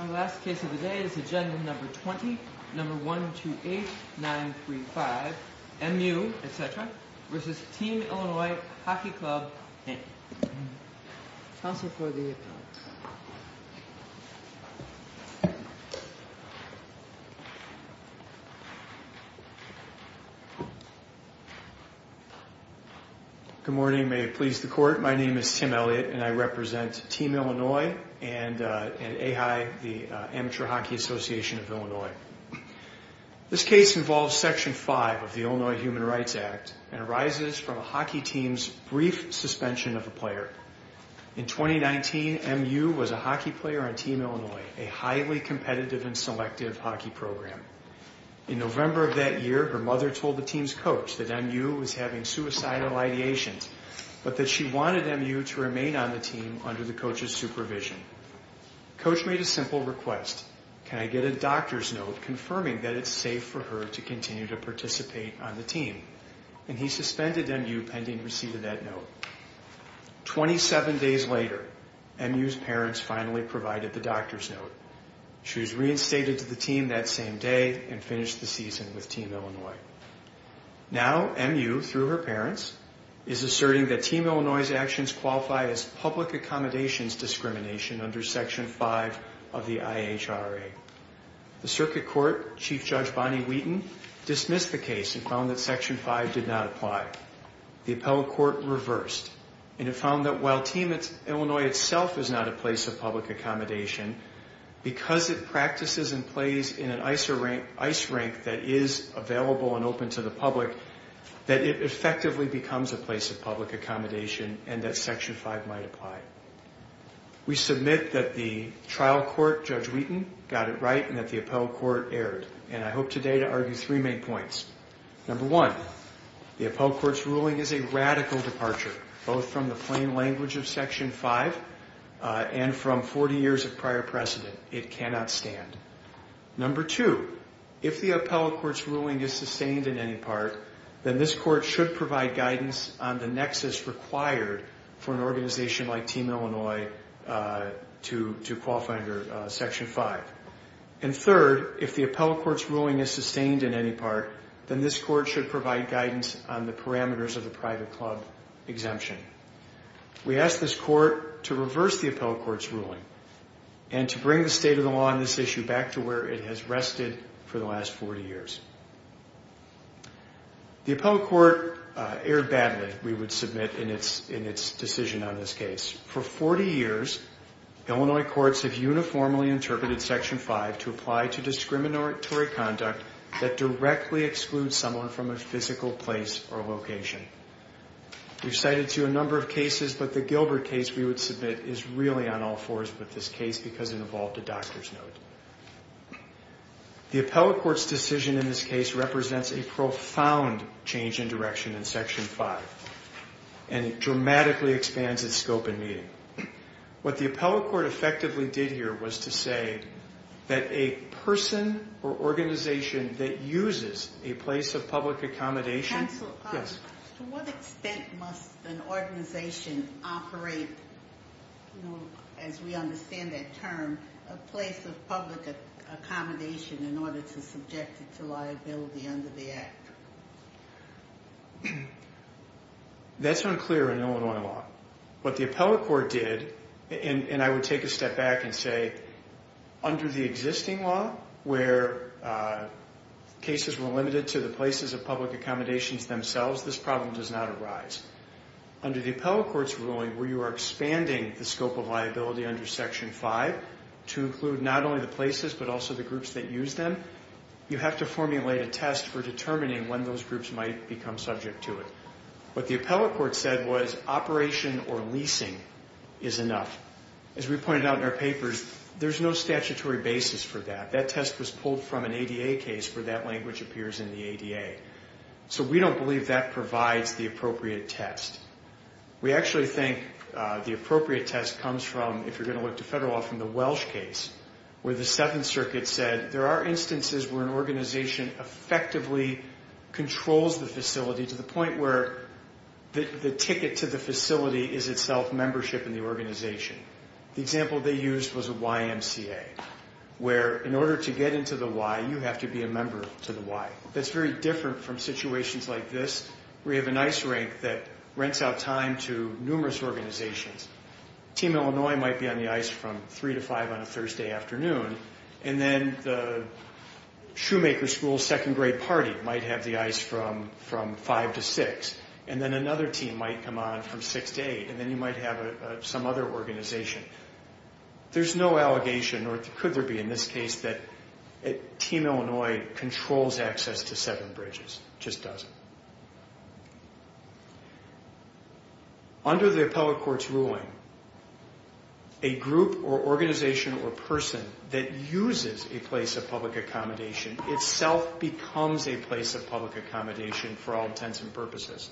Our last case of the day is Agenda No. 20, No. 128935, M.U., etc. v. Team Illinois Hockey Club, Inc. Counsel for the Appeal. Good morning. May it please the Court, my name is Tim Elliott and I represent Team Illinois and AHI, the Amateur Hockey Association of Illinois. This case involves Section 5 of the Illinois Human Rights Act and arises from a hockey team's brief suspension of a player. In 2019, M.U. was a hockey player on Team Illinois, a highly competitive and selective hockey program. In November of that year, her mother told the team's coach that M.U. was having suicidal ideations, but that she wanted M.U. to remain on the team under the coach's supervision. Coach made a simple request, can I get a doctor's note confirming that it's safe for her to continue to participate on the team? And he suspended M.U. pending receipt of that note. Twenty-seven days later, M.U.'s parents finally provided the doctor's note. She was reinstated to the team that same day and finished the season with Team Illinois. Now, M.U., through her parents, is asserting that Team Illinois's actions qualify as public accommodations discrimination under Section 5 of the IHRA. The Circuit Court, Chief Judge Bonnie Wheaton, dismissed the case and found that Section 5 did not apply. The appellate court reversed, and it found that while Team Illinois itself is not a place of public accommodation, because it practices and plays in an ice rink that is available and open to the public, that it effectively becomes a place of public accommodation and that Section 5 might apply. We submit that the trial court, Judge Wheaton, got it right and that the appellate court erred. And I hope today to argue three main points. Number one, the appellate court's ruling is a radical departure, both from the plain language of Section 5 and from 40 years of prior precedent. It cannot stand. Number two, if the appellate court's ruling is sustained in any part, then this court should provide guidance on the nexus required for an organization like Team Illinois to qualify under Section 5. And third, if the appellate court's ruling is sustained in any part, then this court should provide guidance on the parameters of the private club exemption. We ask this court to reverse the appellate court's ruling and to bring the state of the law on this issue back to where it has rested for the last 40 years. The appellate court erred badly, we would submit, in its decision on this case. For 40 years, Illinois courts have uniformly interpreted Section 5 to apply to discriminatory conduct that directly excludes someone from a physical place or location. We've cited a number of cases, but the Gilbert case, we would submit, is really on all fours with this case because it involved a doctor's note. The appellate court's decision in this case represents a profound change in direction in Section 5 and it dramatically expands its scope and meaning. What the appellate court effectively did here was to say that a person or organization that uses a place of public accommodation... Counsel, to what extent must an organization operate, as we understand that term, a place of public accommodation in order to subject it to liability under the Act? That's unclear in Illinois law. What the appellate court did, and I would take a step back and say, under the existing law, where cases were limited to the places of public accommodations themselves, this problem does not arise. Under the appellate court's ruling, where you are expanding the scope of liability under Section 5 to include not only the places, but also the groups that use them, you have to formulate a test for determining when those groups might become subject to it. What the appellate court said was operation or leasing is enough. As we pointed out in our papers, there's no statutory basis for that. That test was pulled from an ADA case where that language appears in the ADA. So we don't believe that provides the appropriate test. We actually think the appropriate test comes from, if you're going to look to federal law, from the Welsh case where the Seventh Circuit said there are instances where an organization effectively controls the facility to the point where the ticket to the facility is itself membership in the organization. The example they used was a YMCA, where in order to get into the Y, you have to be a member to the Y. That's very different from situations like this, where you have an ice rink that rents out time to numerous organizations. Team Illinois might be on the ice from 3 to 5 on a Thursday afternoon, and then the shoemaker school's second grade party might have the ice from 5 to 6, and then another team might come on from 6 to 8, and then you might have some other organization. There's no allegation, or could there be in this case, that Team Illinois controls access to Severn Bridges. It just doesn't. Under the appellate court's ruling, a group or organization or person that uses a place of public accommodation itself becomes a place of public accommodation for all intents and purposes.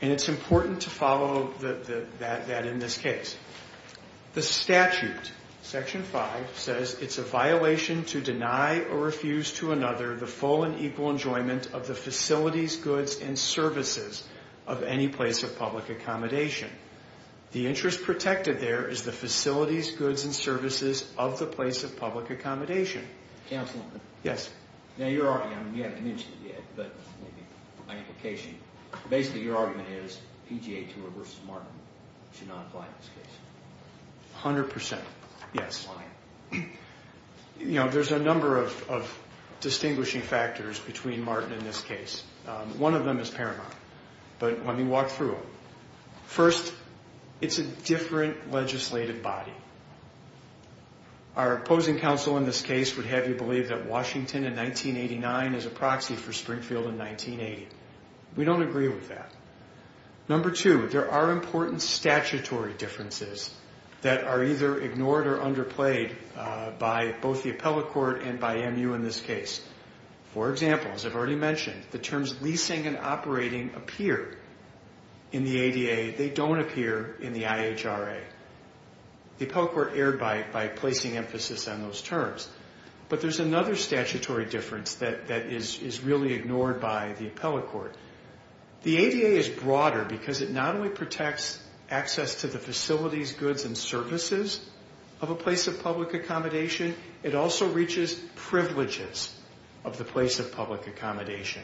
And it's important to follow that in this case. The statute, Section 5, says it's a violation to deny or refuse to another the full and equal enjoyment of the facilities, goods, and services of any place of public accommodation. The interest protected there is the facilities, goods, and services of the place of public accommodation. Counselor? Yes. Now your argument, you haven't mentioned it yet, but my implication, basically your argument is PGA Tour v. Martin should not apply in this case. 100 percent, yes. Why? You know, there's a number of distinguishing factors between Martin in this case. One of them is paramount. But let me walk through them. First, it's a different legislative body. Our opposing counsel in this case would have you believe that Washington in 1989 is a proxy for Springfield in 1980. We don't agree with that. Number two, there are important statutory differences that are either ignored or underplayed by both the appellate court and by MU in this case. For example, as I've already mentioned, the terms leasing and operating appear in the ADA. They don't appear in the IHRA. The appellate court erred by placing emphasis on those terms. But there's another statutory difference that is really ignored by the appellate court. The ADA is broader because it not only protects access to the facilities, goods, and services of a place of public accommodation, it also reaches privileges of the place of public accommodation.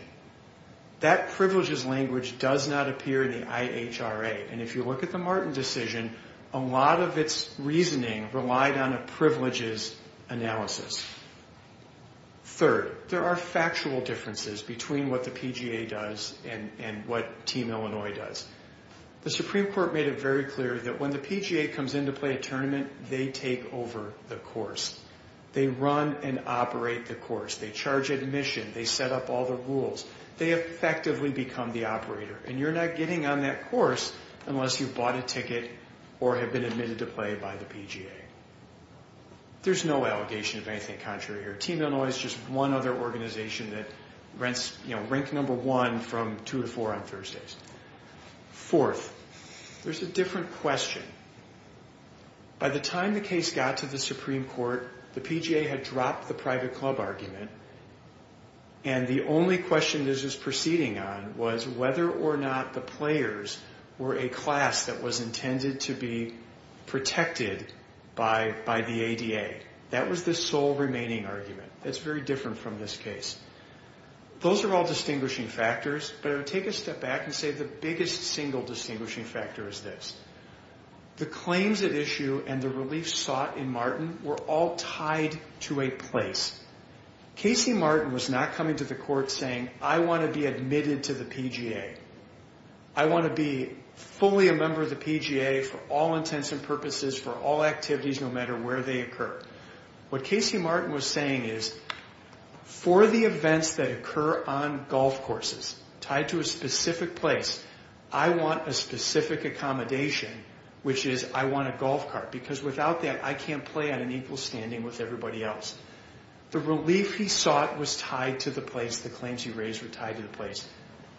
That privileges language does not appear in the IHRA. And if you look at the Martin decision, a lot of its reasoning relied on a privileges analysis. Third, there are factual differences between what the PGA does and what Team Illinois does. The Supreme Court made it very clear that when the PGA comes in to play a tournament, they take over the course. They run and operate the course. They charge admission. They set up all the rules. They effectively become the operator. And you're not getting on that course unless you've bought a ticket or have been admitted to play by the PGA. There's no allegation of anything contrary here. Team Illinois is just one other organization that ranks number one from two to four on Thursdays. Fourth, there's a different question. By the time the case got to the Supreme Court, the PGA had dropped the private club argument. And the only question this was proceeding on was whether or not the players were a class that was intended to be protected by the ADA. That was the sole remaining argument. That's very different from this case. Those are all distinguishing factors. But I would take a step back and say the biggest single distinguishing factor is this. The claims at issue and the relief sought in Martin were all tied to a place. Casey Martin was not coming to the court saying, I want to be admitted to the PGA. I want to be fully a member of the PGA for all intents and purposes, for all activities, no matter where they occur. What Casey Martin was saying is, for the events that occur on golf courses, tied to a specific place, I want a specific accommodation, which is I want a golf cart. Because without that, I can't play on an equal standing with everybody else. The relief he sought was tied to the place. The claims he raised were tied to the place.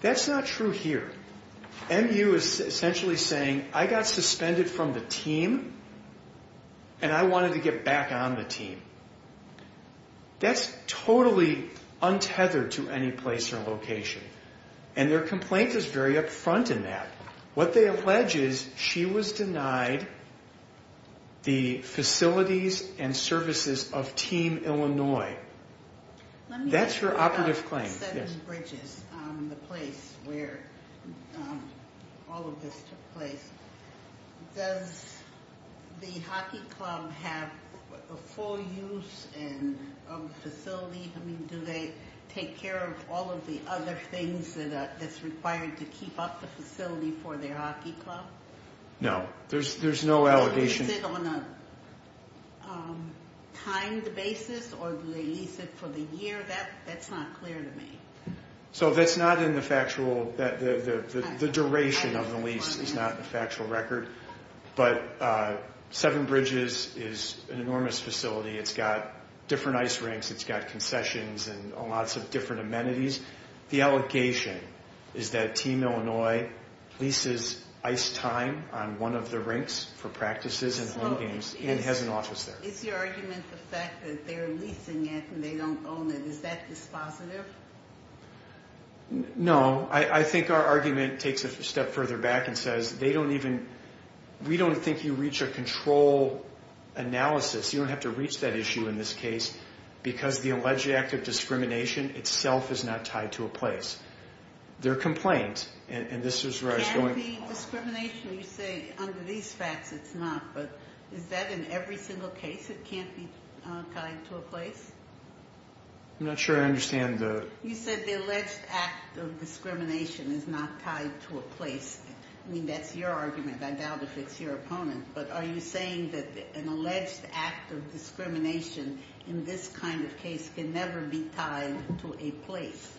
That's not true here. MU is essentially saying, I got suspended from the team, and I wanted to get back on the team. That's totally untethered to any place or location. Their complaint is very upfront in that. What they allege is she was denied the facilities and services of Team Illinois. That's her operative claim. Let me ask you about Seven Bridges, the place where all of this took place. Does the hockey club have full use and facility? Do they take care of all of the other things that's required to keep up the facility for their hockey club? No, there's no allegation. Is it on a timed basis, or do they lease it for the year? That's not clear to me. That's not in the factual. The duration of the lease is not in the factual record. But Seven Bridges is an enormous facility. It's got different ice rinks. It's got concessions and lots of different amenities. The allegation is that Team Illinois leases ice time on one of the rinks for practices and home games and has an office there. Is your argument the fact that they're leasing it and they don't own it? Is that dispositive? No, I think our argument takes it a step further back and says we don't think you reach a control analysis. You don't have to reach that issue in this case because the alleged act of discrimination itself is not tied to a place. There are complaints, and this is where I was going. Can't the discrimination, you say, under these facts it's not, but is that in every single case it can't be tied to a place? I'm not sure I understand the... You said the alleged act of discrimination is not tied to a place. I mean, that's your argument. I doubt if it's your opponent. But are you saying that an alleged act of discrimination in this kind of case can never be tied to a place?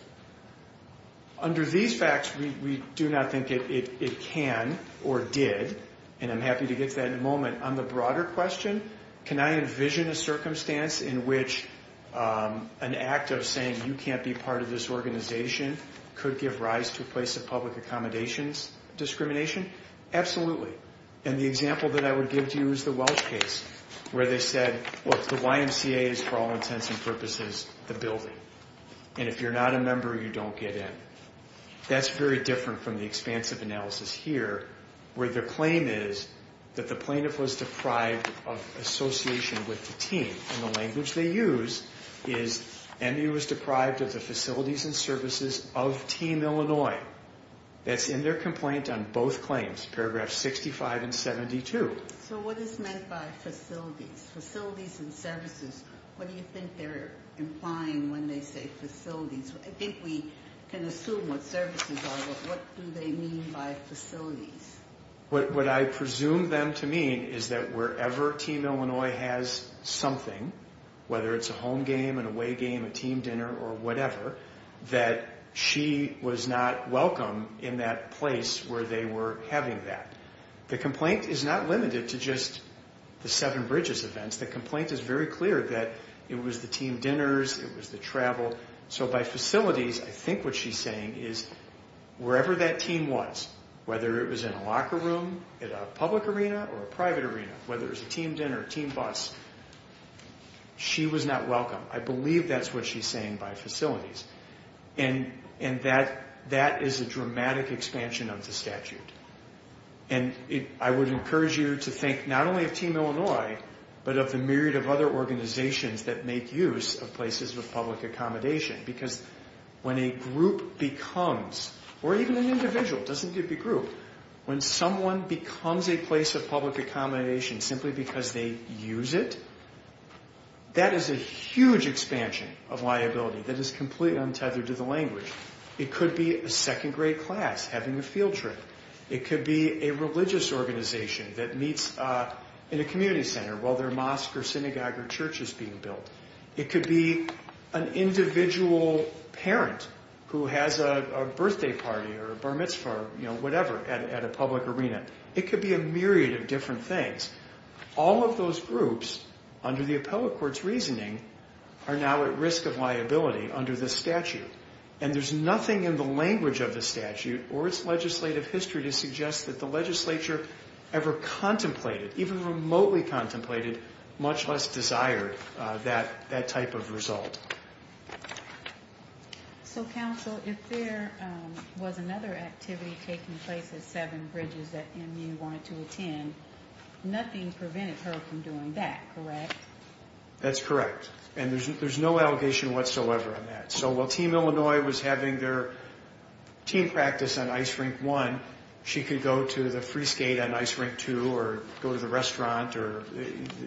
Under these facts, we do not think it can or did, and I'm happy to get to that in a moment. On the broader question, can I envision a circumstance in which an act of saying you can't be part of this organization could give rise to a place of public accommodations discrimination? Absolutely. And the example that I would give to you is the Welsh case where they said, look, the YMCA is for all intents and purposes the building. And if you're not a member, you don't get in. That's very different from the expansive analysis here where the claim is that the plaintiff was deprived of association with the team. And the language they use is, Emmy was deprived of the facilities and services of Team Illinois. That's in their complaint on both claims, paragraphs 65 and 72. So what is meant by facilities? Facilities and services, what do you think they're implying when they say facilities? I think we can assume what services are, but what do they mean by facilities? What I presume them to mean is that wherever Team Illinois has something, whether it's a home game, an away game, a team dinner or whatever, that she was not welcome in that place where they were having that. The complaint is not limited to just the Seven Bridges events. The complaint is very clear that it was the team dinners, it was the travel. So by facilities, I think what she's saying is wherever that team was, whether it was in a locker room, at a public arena or a private arena, whether it was a team dinner, team bus, she was not welcome. I believe that's what she's saying by facilities. And that is a dramatic expansion of the statute. And I would encourage you to think not only of Team Illinois, but of the myriad of other organizations that make use of places with public accommodation. Because when a group becomes, or even an individual, it doesn't have to be a group, when someone becomes a place of public accommodation simply because they use it, that is a huge expansion of liability that is completely untethered to the language. It could be a second grade class having a field trip. It could be a religious organization that meets in a community while their mosque or synagogue or church is being built. It could be an individual parent who has a birthday party or a bar mitzvah or whatever at a public arena. It could be a myriad of different things. All of those groups, under the appellate court's reasoning, are now at risk of liability under this statute. And there's nothing in the language of the statute or its legislative history to suggest that the legislature ever contemplated, even remotely contemplated, much less desired that type of result. So, counsel, if there was another activity taking place at seven bridges that MU wanted to attend, nothing prevented her from doing that, correct? That's correct. And there's no allegation whatsoever on that. So while Team Illinois was having their team practice on ice rink one, she could go to the free skate on ice rink two or the restaurant or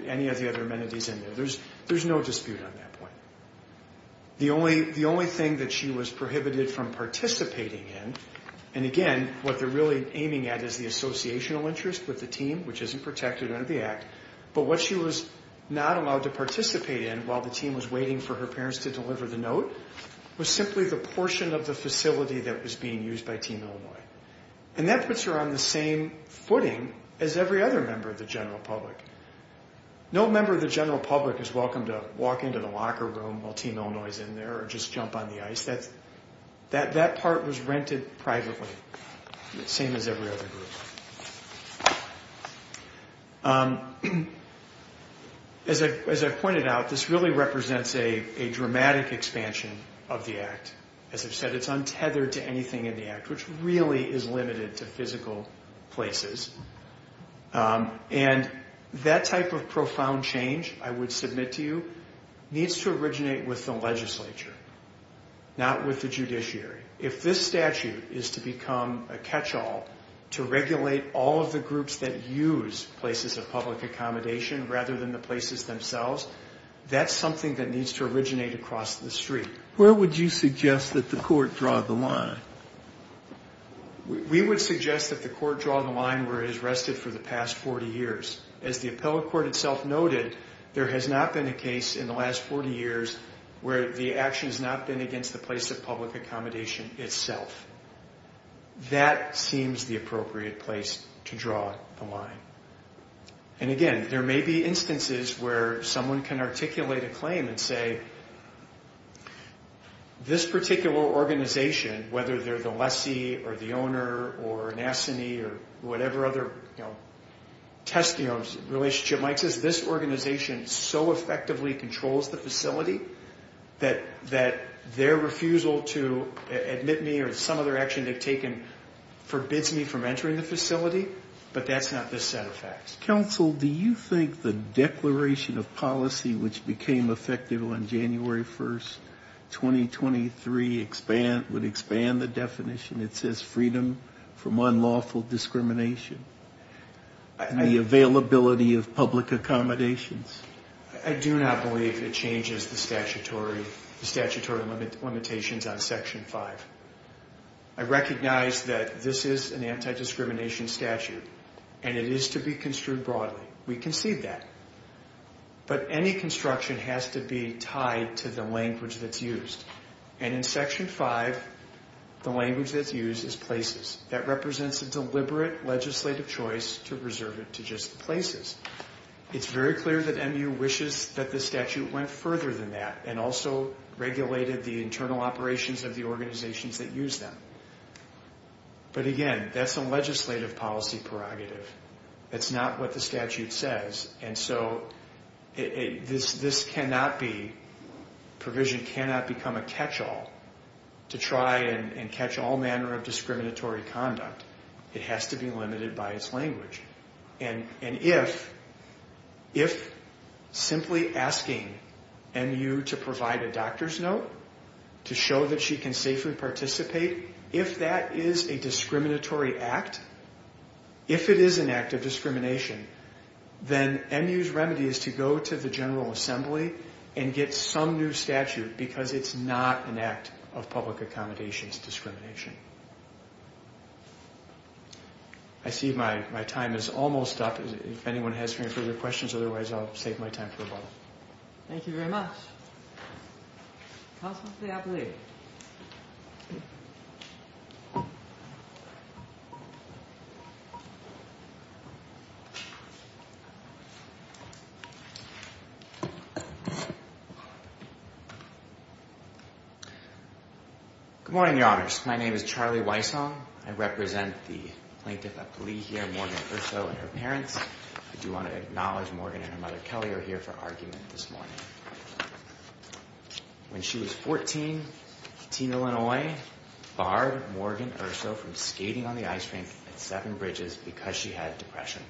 any of the other amenities in there. There's no dispute on that point. The only thing that she was prohibited from participating in, and again, what they're really aiming at is the associational interest with the team, which isn't protected under the Act, but what she was not allowed to participate in while the team was waiting for her parents to deliver the note was simply the portion of the facility that was being used by Team Illinois. And that puts her on the same footing as every other member of the general public. No member of the general public is welcome to walk into the locker room while Team Illinois is in there or just jump on the ice. That part was rented privately, the same as every other group. As I pointed out, this really represents a dramatic expansion of the Act. As I've said, it's untethered to anything in the Act, which really is limited to physical places. And that type of profound change, I would submit to you, needs to originate with the legislature, not with the judiciary. If this statute is to become a catch-all to regulate all of the groups that use places of public accommodation rather than the places themselves, that's something that needs to originate across the street. Where would you suggest that the court draw the line? We would suggest that the court draw the line where it has rested for the past 40 years. As the appellate court itself noted, there has not been a case in the last 40 years where the action has not been against the place of public accommodation itself. That seems the appropriate place to draw the line. And again, there may be instances where someone can articulate a claim and say, this particular organization, whether they're the lessee or the owner or an assinee or whatever other, you know, test, you know, relationship. Mike says this organization so effectively controls the facility that their refusal to admit me or some other action they've taken forbids me from entering the facility, but that's not this set of facts. Counsel, do you think the Declaration of Policy, which became effective on January 1st, 2023, would expand the definition? It says freedom from unlawful discrimination and the availability of public accommodations. I do not believe it changes the statutory limitations on Section 5. I recognize that this is an anti-discrimination statute and it is to be construed broadly. We concede that. But any construction has to be tied to the language that's used. And in Section 5, the language that's used is places. That represents a deliberate legislative choice to reserve it to just places. It's very clear that MU wishes that the statute went further than that and also regulated the internal operations of the organizations that use them. But again, that's a legislative policy prerogative. That's not what the statute says. And so this cannot be, provision cannot become a catch-all and catch all manner of discriminatory conduct. It has to be limited by its language. And if simply asking MU to provide a doctor's note to show that she can safely participate, if that is a discriminatory act, if it is an act of discrimination, then MU's remedy is to go to the General Assembly and get some new statute because it's not an act of public accommodations discrimination. I see my time is almost up. If anyone has any further questions, otherwise I'll save my time for the ball. Thank you very much. Counsel to the appellee. Good morning, Your Honors. My name is Charlie Weissong. I represent the plaintiff appellee here, Morgan Erso and her parents. I do want to acknowledge Morgan and her mother Kelly are here for argument this morning. When she was 14, Teen Illinois barred Morgan Erso from skating on the ice rink at Seven Bridges because she had depression.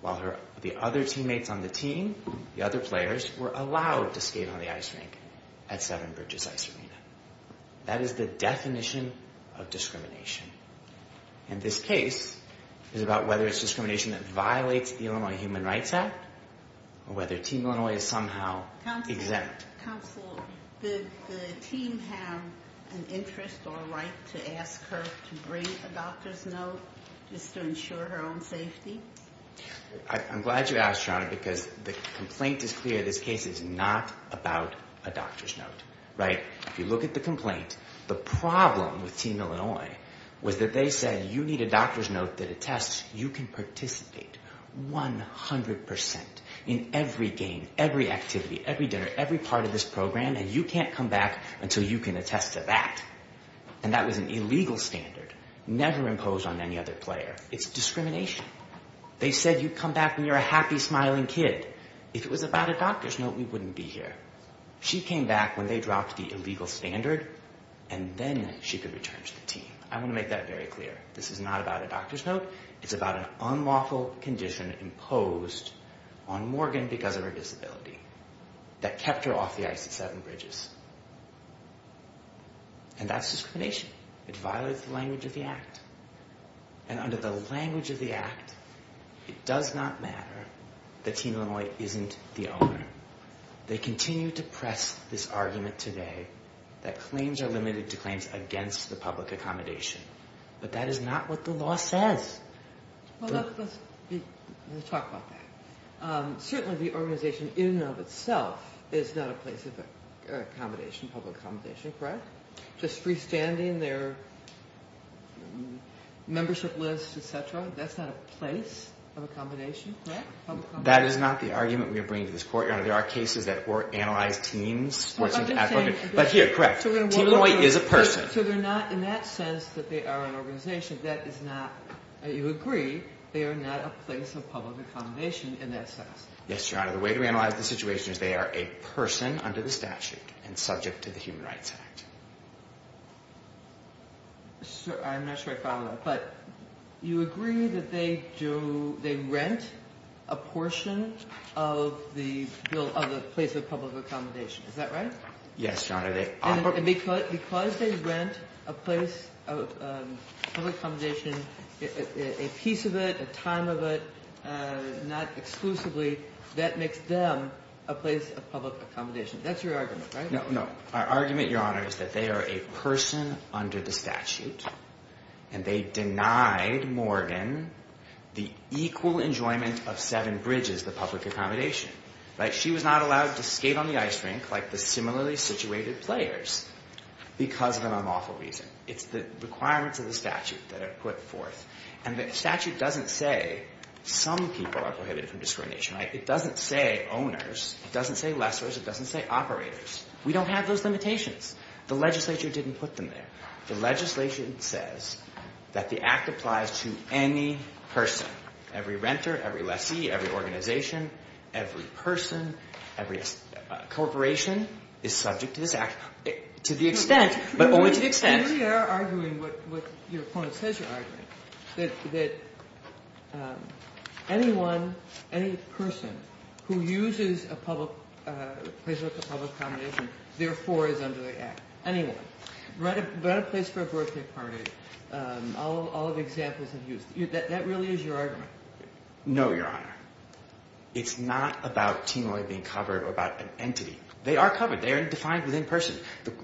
While the other teammates on the team, the other players, were allowed to skate on the ice rink. At Seven Bridges Ice Arena. That is the definition of discrimination. And this case is about whether it's discrimination that violates the Illinois Human Rights Act or whether Teen Illinois is somehow exempt. Counsel, did the team have an interest or a right to ask her to bring a doctor's note just to ensure her own safety? because the complaint is clear. This case is not about a doctor's note. Right? If you look at the complaint, the problem with Teen Illinois was that they said you need a doctor's note that attests you can participate 100% in every game, every activity, every dinner, every part of this program and you can't come back until you can attest to that. And that was an illegal standard never imposed on any other player. It's discrimination. They said you come back when you're a happy, smiling kid. If it was about a doctor's note, we wouldn't be here. You come back when they dropped the illegal standard and then she could return to the team. I want to make that very clear. This is not about a doctor's note. It's about an unlawful condition imposed on Morgan because of her disability that kept her off the I-67 bridges. And that's discrimination. It violates the language of the Act. And under the language of the Act, it does not matter that Teen Illinois isn't the owner. They continue to press this argument today that claims are limited to claims against the public accommodation. But that is not what the law says. Well, let's talk about that. Certainly the organization in and of itself is not a place of accommodation, public accommodation, correct? Just freestanding their membership list, et cetera, that's not a place of accommodation, correct? That is not the argument we are bringing to this court. Your Honor, there are cases that analyze teams. But here, correct, Teen Illinois is a person. So they're not in that sense that they are an organization. That is not, you agree, they are not a place of public accommodation in that sense. Yes, Your Honor. The way to analyze the situation is they are a person under the statute and subject to the Human Rights Act. I'm not sure I follow that. But you agree that they do, they rent a portion of the place of public accommodation, is that right? Yes, Your Honor. And because they rent a place of public accommodation, a piece of it, a time of it, not exclusively, that makes them a place of public accommodation. That's your argument, right? No, no. Our argument, Your Honor, is that they are a person under the statute and they denied Morgan the equal enjoyment of seven bridges, the public accommodation. Right? She was not allowed to skate on the ice rink like the similarly situated players because of an unlawful reason. It's the requirements of the statute that are put forth. And the statute doesn't say some people are prohibited from discrimination, right? It doesn't say owners. It doesn't say lessors. It doesn't say operators. We don't have those limitations. The legislature didn't put them there. The legislation says that the act applies to any person, every renter, every lessee, every organization, every person, every corporation is subject to this act to the extent, but only to the extent. You really are arguing what your opponent says you're arguing, that anyone, any person who uses a public, a place of public accommodation, Anyone. Rent a place for a birthday party. All of the examples I've used. That really is your argument? No, Your Honor. It's not about Tinoi being covered or about an entity. They are covered. They are defined within person.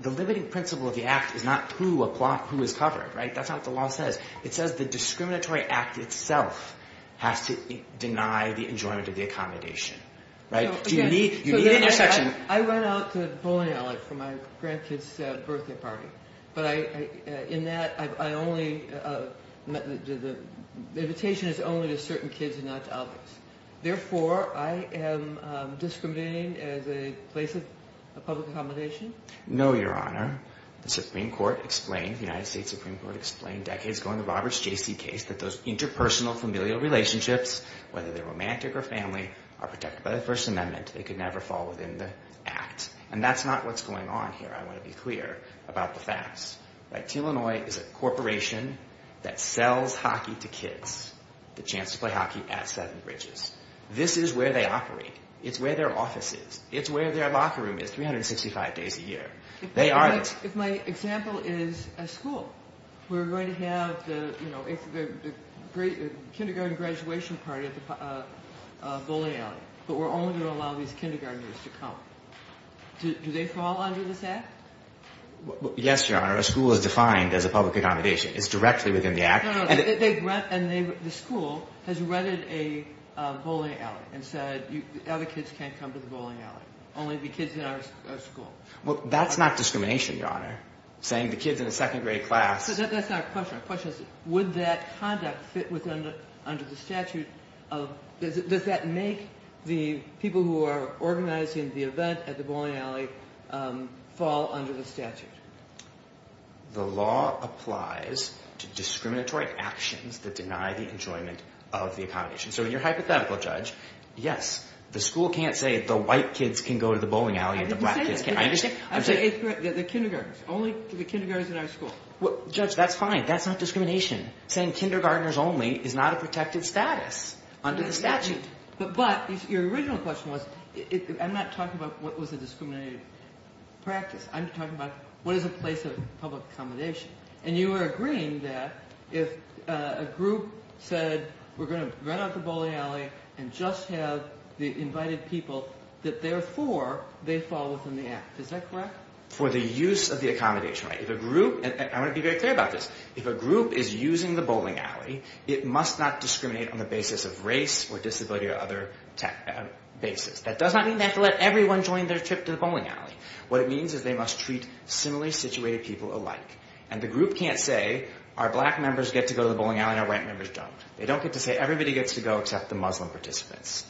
The limiting principle of the act is not who is covered, right? That's not what the law says. It says the discriminatory act itself has to deny the enjoyment of the accommodation. Right? You need an intersection. I went out to Polignale for my grandkids' birthday party. But I, in that, I only, the invitation is only to certain kids and not to others. Therefore, I am discriminating as a place of public accommodation? No, Your Honor. The Supreme Court explained, the United States Supreme Court explained decades ago in the Roberts J.C. case that those interpersonal familial relationships, whether they're romantic or family, are protected by the First Amendment. They could never fall within the act. And that's not what's going on here. I want to be clear about the facts. Right? Tinoi is a corporation that sells hockey to kids. The chance to play hockey at Seven Bridges. This is where they operate. It's where their office is. It's where their locker room is 365 days a year. They aren't... If my example is a school. We're going to have the, you know, the kindergarten graduation party at Polignale. But we're only going to allow these kindergarteners to come. Do they fall under this act? Yes, Your Honor. A school is defined as a public accommodation. It's directly within the act. No, no. And the school has rented a bowling alley and said other kids can't come to the bowling alley. Only the kids in our school. Well, that's not discrimination, Your Honor. Saying the kids in the second grade class... That's not a question. My question is would that conduct fit under the statute of... Does that make the people who are organizing the event at the bowling alley fall under the statute? The law applies to discriminatory actions that deny the enjoyment of the accommodation. So in your hypothetical, Judge, yes, the school can't say the white kids can go to the bowling alley and the black kids can't. I'm saying... The kindergarteners. Only the kindergarteners in our school. Judge, that's fine. That's not discrimination. Saying kindergarteners only is not a protected status under the statute. But your original question was... I'm not talking about what was a discriminatory practice. I'm talking about what is a place of public accommodation. And you were agreeing that if a group said we're going to rent out the bowling alley and just have the invited people that therefore they fall within the act. Is that correct? For the use of the accommodation right. If a group... And I want to be very clear about this. If a group is using the bowling alley, it must not discriminate on the basis of race or disability or other basis. That does not mean they have to let everyone join their trip to the bowling alley. What it means is they must treat similarly situated people alike. And the group can't say our black members get to go to the bowling alley and our white members don't. They don't get to say everybody gets to go except the Muslim participants.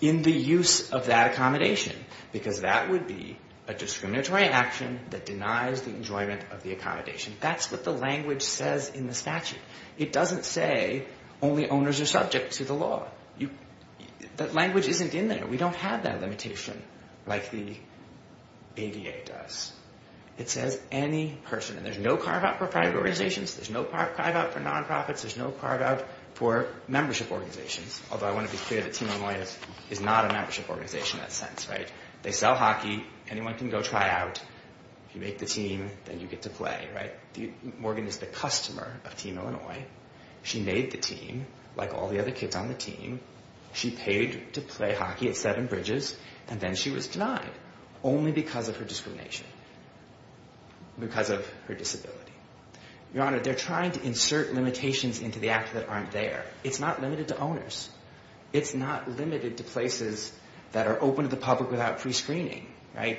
In the use of that accommodation because that would be a discriminatory action that denies the enjoyment of the accommodation. That's what the language says in the statute. It doesn't say only owners are subject to the law. That language isn't in there. We don't have that limitation like the ADA does. It says any person. And there's no carve out for private organizations there's no carve out for non-profits there's no carve out for membership organizations. Although I want to be clear that Team Illinois is not a membership organization in that sense. They sell hockey anyone can go try out if you make the team then you get to play. Morgan is the customer of Team Illinois. She made the team like all the other kids hockey at Seven Bridges and then she was denied only because of her discrimination. Because of her disability. Your Honor, does that make any sense? Does that make any sense? But they're trying to insert limitations into the act that aren't there. It's not limited to owners. It's not limited to places that are open to the public without prescreening.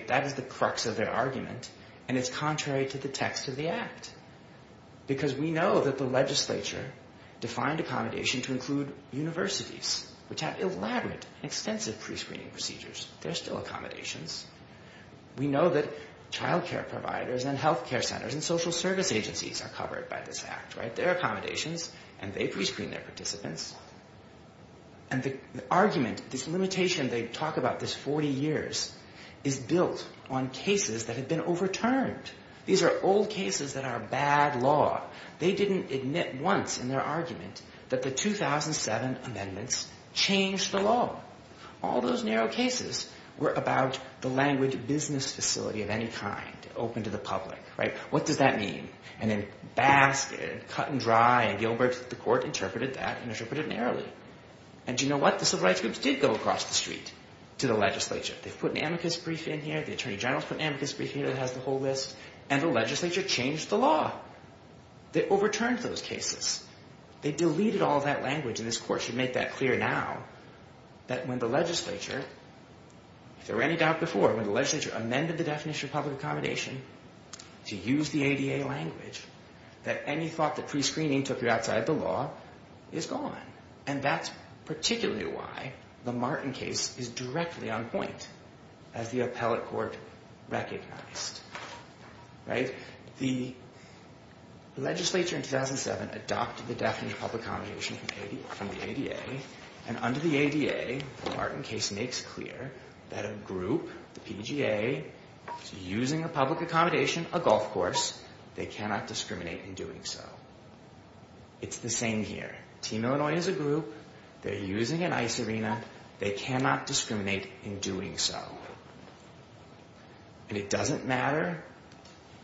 That is the crux of their argument and it's contrary to the text of the act. Because we know that the legislature defined accommodation to include universities which have elaborate and extensive prescreening procedures. There are still accommodations. We know that child care providers and health care centers and social service agencies are covered by this act. There are accommodations and they prescreen their participants. And the argument, this limitation they talk about this 40 years is built on cases that have been overturned. These are old cases that are bad law. They didn't admit changed the law. All those narrow cases were about the language business facility of any kind open to the public without prescreening. They didn't admit once in their argument that it was open to the public. What does that mean? And then basket cut and dry and Gilbert the court interpreted that and interpreted it narrowly. And do you know what? The civil rights groups did go across the street to the legislature. They put an amicus brief in here, the attorney general put an amicus brief in here that has the whole list and the legislature changed the law. They overturned those cases. They deleted all that language and this court should make that clear now that when the legislature if there were any doubt before when the legislature amended the definition of public accommodation to use the ADA language that any thought that prescreening took you outside the law is gone. And that's particularly why the Martin case is directly on point as the appellate court recognized. Right? The legislature in 2007 adopted the definition of public accommodation from the ADA and under the ADA the Martin case makes clear that a group the PGA is using a public accommodation a golf course they cannot discriminate in doing so. It's the same here. Team Illinois is a group they're using an ice arena they cannot discriminate in doing so. And it doesn't matter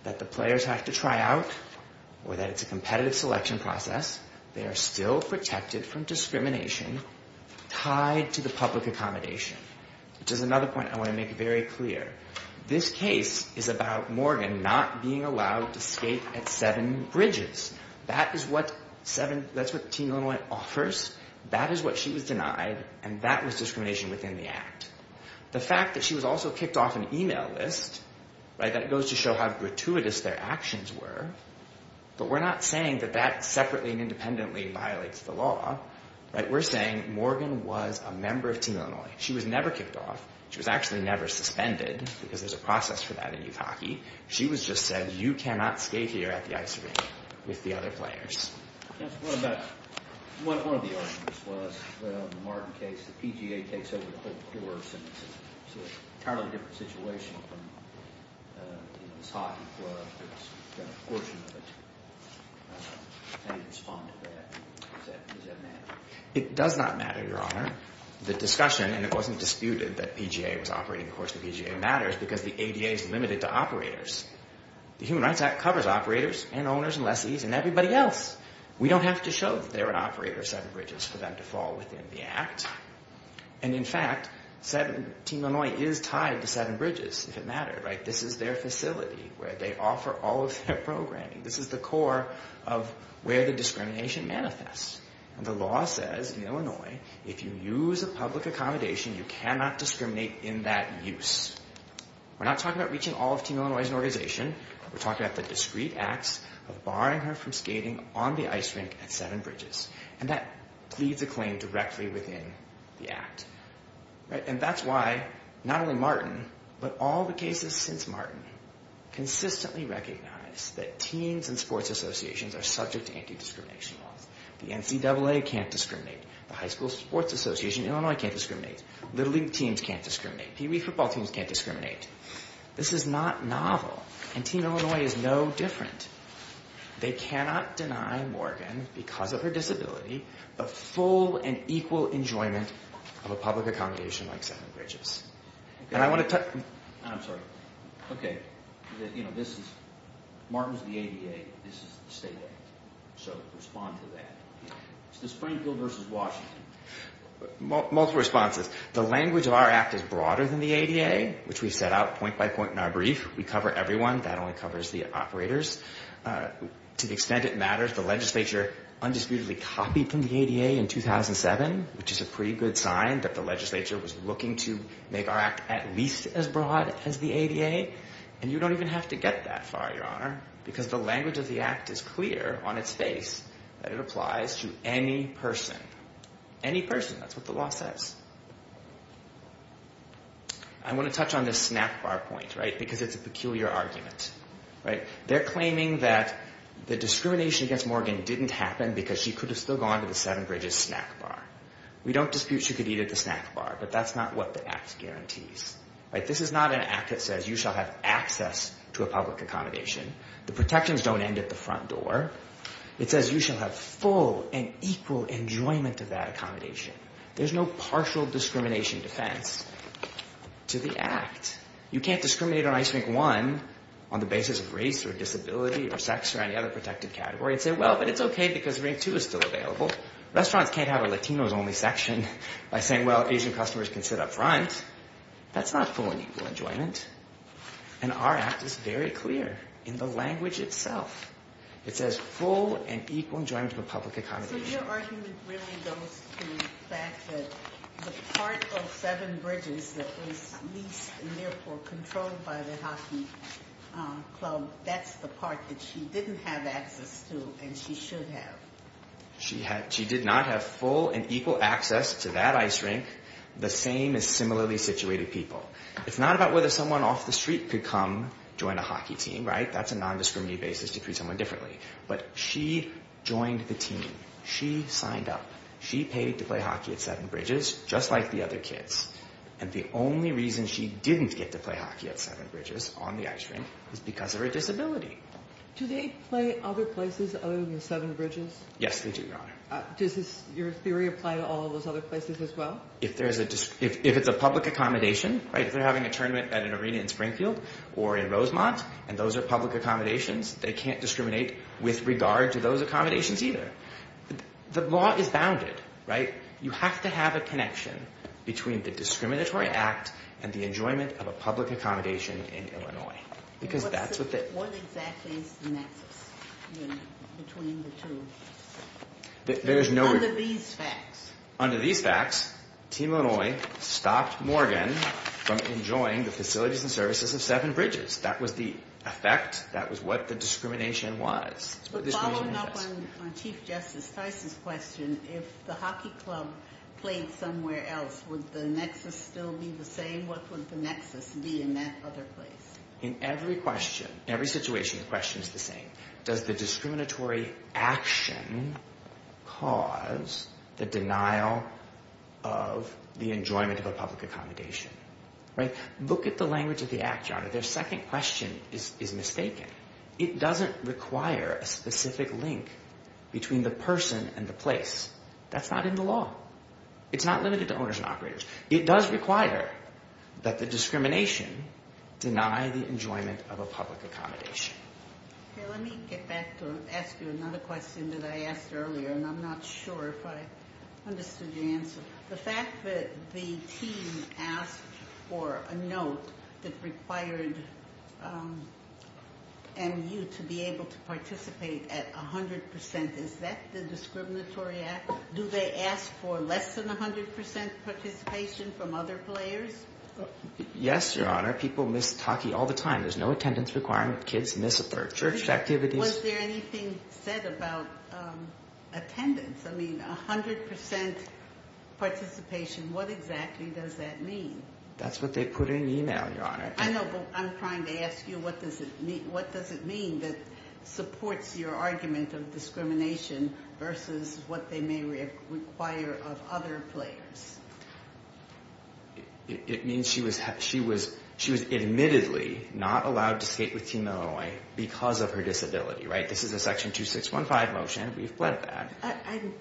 that the players have to try out or that it's a competitive selection process. They are still protected from discrimination tied to the public accommodation which is another point I want to make very clear. This case is about Morgan not being allowed to skate at seven bridges. That is what Team Illinois offers. That is what she was denied and that was discrimination within the act. The fact that she was also kicked off an email list that goes to show how gratuitous their actions were but we're not saying that that separately and independently violates the law. We're saying Morgan was a member of Team Illinois. She was never kicked off. She was actually never suspended because there's a process for that in youth hockey. She was just said you cannot skate here with the other players. It does not matter, Your Honor. The discussion and it wasn't disputed that PGA was operating of course the PGA matters because the ADA is limited to operators. The Human Rights Act covers operators and owners and lessees and everybody else. We don't have to show that they're an operator of seven bridges for them to fall within the act and in fact Team Illinois is tied to seven bridges if it mattered. This is their facility where they offer all of their programming. This is the core of where the discrimination manifests and the law says in Illinois if you use a public accommodation you cannot discriminate in that use. We're not talking about reaching all of Team Illinois as an organization. We're talking about the discreet acts of barring her from skating on the ice rink at seven bridges and that pleads directly within the act and that's why not only Martin but all the cases since Martin consistently recognize that teens and sports associations are subject to anti-discrimination laws. The NCAA can't discriminate. The high school sports association in Illinois can't discriminate. Little league teams can't discriminate. PE football teams can't discriminate. This is not novel and Team Illinois is no different. They cannot deny Morgan because of her disability the full and equal enjoyment of a public accommodation like seven bridges. And I want to touch I'm sorry okay you know this is Martin's the ADA this is the state act so respond to that. It's the Springfield versus Washington. Multiple responses. The language of our act is broader than the ADA which we set out point by point in our brief. We cover everyone that only covers the operators. To the extent it matters the legislature undisputedly copied from the ADA in 2007 which is a pretty good sign that the legislature was looking to make our act at least as broad as the ADA and you don't even have to get that far your honor because the language of the act is clear on its face that it applies to any person. Any person that's what the law says. I want to touch on this snack bar point because it's a peculiar argument. They're claiming that the discrimination against Morgan didn't happen because she could have still gone to the seven bridges snack bar. We don't dispute she could eat at the snack bar but that's not what the act guarantees. This is not an act that says you shall have access to a public accommodation. The protections don't end at the front door. It says you shall have full and equal enjoyment of that accommodation. There's no partial discrimination defense to the act. You can't discriminate on ice rink one on the basis of race or disability or sex or any other protected category and say well but it's okay because rink two is still available. Restaurants can't have a Latinos only section by saying well Asian customers can sit up front. That's not full and equal enjoyment and our act is very clear in the language itself. It says full and equal enjoyment of a public accommodation. So your argument really goes to the fact that the part of seven bridges that was leased and therefore controlled by the hockey club, that's the part that she didn't have access to and she should have. She did not have full and equal access to that ice rink the same as similarly situated people. It's not about whether someone off the street could come join a hockey team, right? That's a non-discriminatory basis to treat someone differently but she joined the team. She signed up. She paid to play hockey at seven bridges just like the other So does your theory apply to all those other places as well? If it's a public accommodation, if they're having a tournament at an arena in Springfield or in Rosemont and those are public accommodations, they can't discriminate with regard to those accommodations either. The law is bounded, right? You have to have a connection between the discriminatory act and the enjoyment of a public accommodation in Illinois. Because that's what they What exactly is the nexus between the two? Under these facts. Under these facts, Team Illinois stopped Morgan from enjoying the facilities and services of Seven Bridges. That was the effect. That was what the law played somewhere else. Would the nexus still be the same? What would the nexus be in that other place? In every question, every situation, the question is the same. discriminatory action cause the denial of the enjoyment of a public accommodation? Right? Look at the language of the Act, Your Honor. Their second clause. It's not limited to owners and operators. It does require that the discrimination deny the enjoyment of a public accommodation. Let me get back to ask you another question that I asked earlier and I'm not sure if I understood the answer. The fact that the team asked for a note that required MU to be able to participate at all. Was there less than 100% participation from other players? Yes, Your Honor. People miss hockey all the time. There's no attendance requirement. Kids miss church activities. Was there anything said about attendance? I mean, 100% participation. What exactly does that mean? That's what they put in there. It means that she was admittedly not allowed to skate with team Illinois because of her disability. This is a section 2615 motion.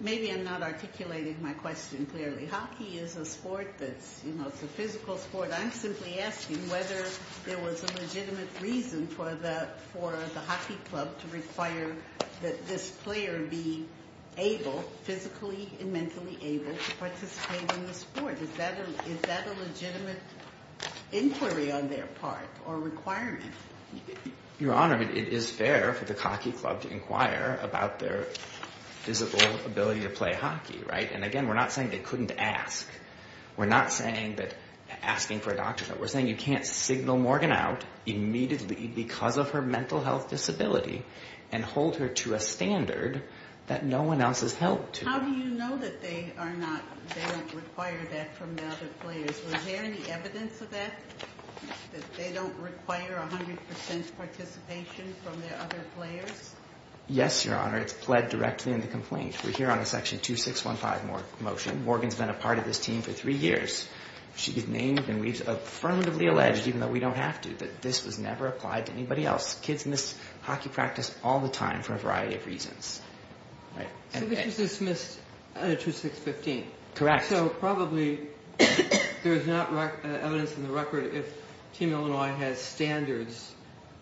Maybe I'm not articulating my question clearly. Hockey is a sport that's a physical sport. I'm simply asking whether there was a legitimate reason for the hockey club to require that this player be physically and mentally able to participate in the sport. Is that a legitimate inquiry on their part or requirement? Your Honor, it is fair for the hockey club to inquire about their physical ability to play hockey. We're not saying they couldn't ask. We're not asking for a doctorate. We're saying you can't signal Morgan out immediately because of her mental health disability and hold her to a standard that no one else has helped to. How do you know that they don't require that from the other players? Was there any evidence of that, that they don't require 100% participation from the other players? Yes, Your Honor. It's pled directly in the complaint. We're here on a section 2615 motion. Morgan's been a part of this team for three years. She's named and we've affirmatively alleged, even though we don't have to, that this was never applied to anybody else. Kids miss hockey practice all the time for a variety of reasons. So this was dismissed 2615? Correct. So probably there's not evidence in the record if Team Illinois has standards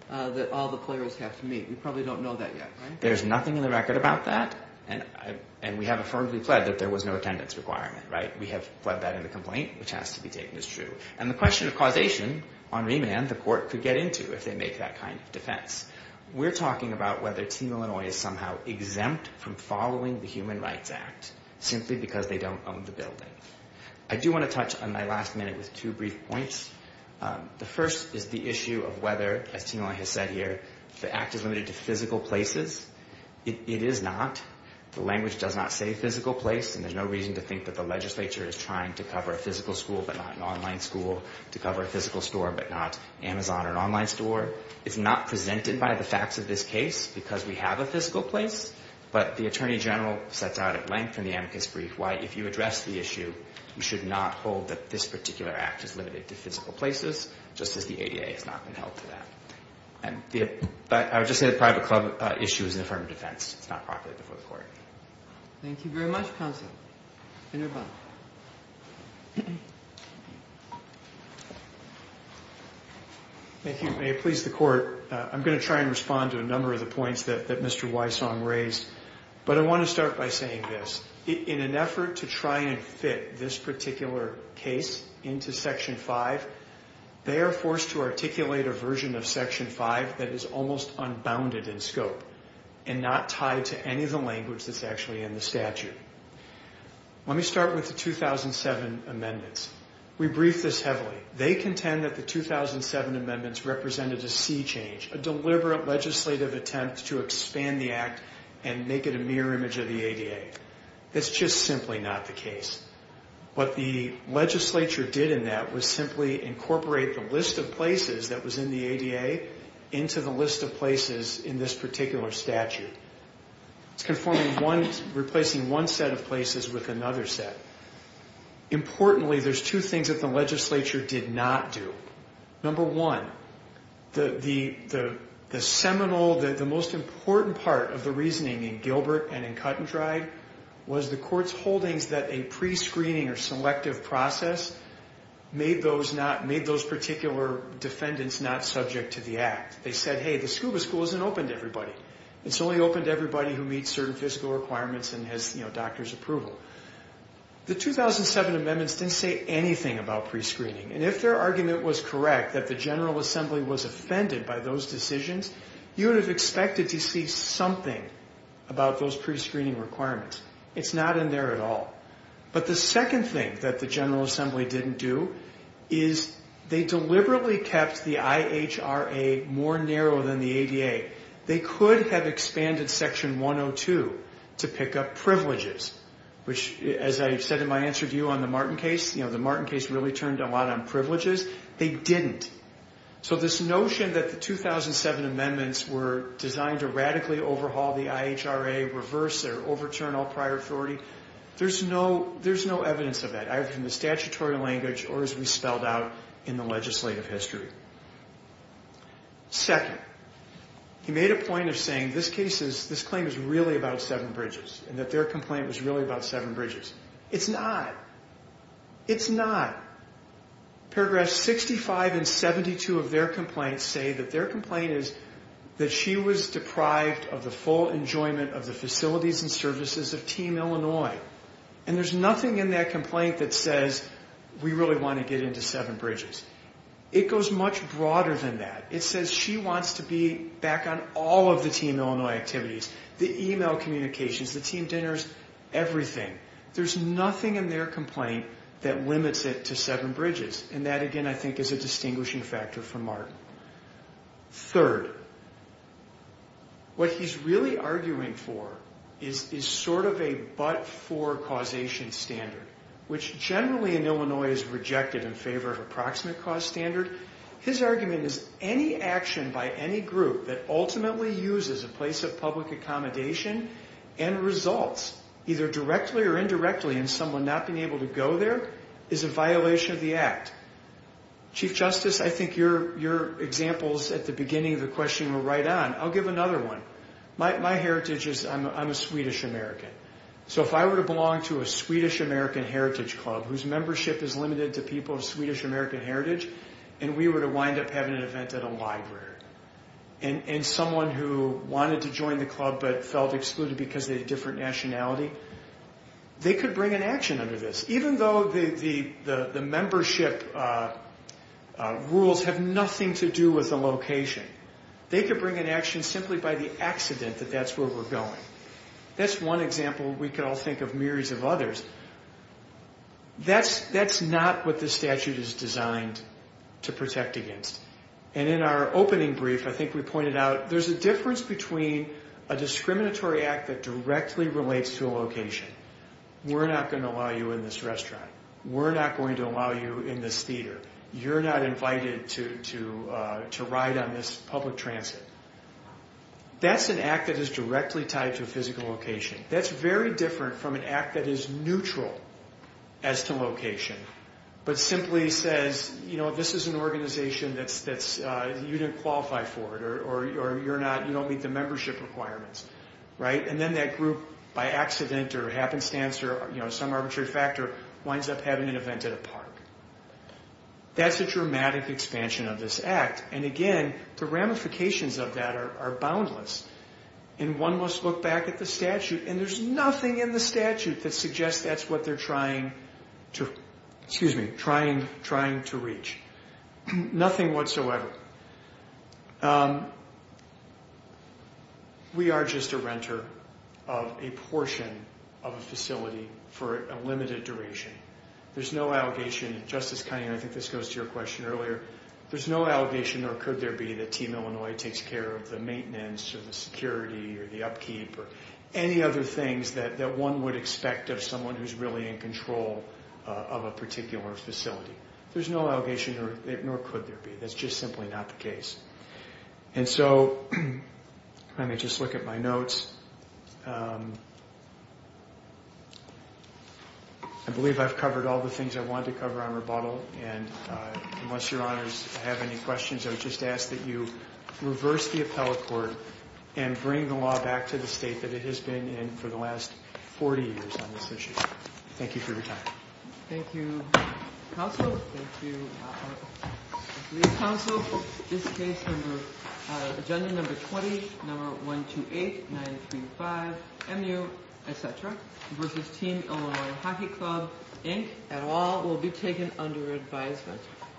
that all the players have to meet. We probably don't know that yet, right? There's nothing in the record about that, and we have affirmatively pled that there was no attendance requirement, right? We have pled that in the complaint, which has to be taken as true. And the other thing to touch on, I do want to touch on my last minute with two brief points. The first is the issue of whether, as Team Illinois has said here, the Act is limited to physical places. It is not. The language does not say physical place, and there's no reason to think that the legislature is trying to cover a physical school, but not an online school, to cover a physical store, but not Amazon or an online store. It's not presented by the facts of this case, because we have a physical place, but the Attorney General sets out at length in the amicus brief why if you address the issue, you should not hold that this particular Act is limited to physical places, just as the ADA has not been held to that. I would just say the private club issue is an affirmative defense. It's not properly before the court. Thank you very much counsel. Thank you, may it please the court, I'm going to try and respond to a number of the points that Mr. Wysong raised, but I want to start by saying this, in an effort to try and fit this particular case into section 5, they are forced to use language that is actually in the statute. Let me start with the 2007 amendments. We briefed this heavily. They contend that the 2007 amendments represented a sea change, a deliberate legislative attempt to expand the Act and make it a mirror image of the ADA. It's just simply not the case. What the court did was replace one set of places with another set. Importantly, there's two things that the legislature did not do. Number one, the seminal, the most important part of the reasoning in Gilbert and Cut and Dried was the court's holdings that a prescreening or selective process made those particular defendants not subject to the Act. They said, hey, the scuba school isn't open to everybody. It's only open to everybody who meets certain fiscal requirements and has doctor's approval. The 2007 amendments didn't say anything about prescreening. And if their argument was correct, that the General Assembly was offended by those decisions, you would have expected to see something about those prescreening requirements. It's not in there at all. But the second thing that the General Assembly didn't do is they deliberately kept the IHRA more narrow than the ADA. They could have expanded Section 102 to pick up privileges, which, as I said in my interview on the Martin case, the Martin case really turned a lot on privileges. They didn't. So this notion 2007 amendments were designed to radically overhaul the IHRA, reverse or overturn all prior authority, there's no evidence of that, either from the statutory language or as we spelled out in the legislative history. Second, he made a point of saying this claim is really about seven bridges and that their complaint was really about seven bridges. It's not. It's not. Paragraph 65 and 72 of their complaints say that their complaint is that she was deprived of the full enjoyment of the facilities and services of Team Illinois. And there's nothing in that complaint that says we really want to get into seven bridges. get into the networking activities, the email communications, the team dinners, everything. There's nothing in their complaint that limits it to seven bridges and that again I think is a distinguishing factor for Martin. Third, what he's really arguing for is sort of a but-for causation standard which generally in Illinois is rejected in favor of approximate cost standard. His argument is any action by any group that ultimately uses a place of public accommodation and results either directly or indirectly in someone not being able to go there is a violation of the act. Chief Justice, I think your examples at the beginning of the question were very clear. If I were to belong to a Swedish American heritage club whose membership is limited to people of Swedish American heritage and we were to wind up having an event at a library and someone who wanted to join the club but felt excluded because of a different location, we're not going to allow you in this restaurant. We're not going to on this public transit. We're not going to allow you in this restaurant. We're not going to allow you in this theater. That's an act that is directly tied to a physical location. That's very different from an act that is neutral as to location but simply says this is an organization that you didn't qualify for or you don't meet the membership requirements. And then that group by accident or happenstance or some arbitrary factor winds up having an event at the park. That's a dramatic expansion of this act. And again, the ramifications of that are boundless. And one must look back at the statute and there's nothing in the statute that suggests that's what they're trying to, excuse me, trying to reach. Nothing whatsoever. We are just a renter of a portion of a facility for a limited duration. There's no allegation, and Justice Kinney, I think this goes to your question earlier, there's no allegation nor could there be that Team Illinois takes care of the maintenance or the security or the upkeep or any other things that one would expect of someone who's really in control of a particular facility. There's no allegation would expect of someone who's really in control of a particular facility. So, let me just look at my notes. I believe I've got 1, 20, number 1, 2, 8, 9, 3, 5, MU, Team Illinois Hockey Club Inc., et al. Will be taken under advice. Thank you. Thank you. Thank you. Thank you. Thank you. Thank you. Thank you. Thank you. Thank you. Thank you. Thank you. Thank you. Thank you. Thank you. Thank you. Thank you.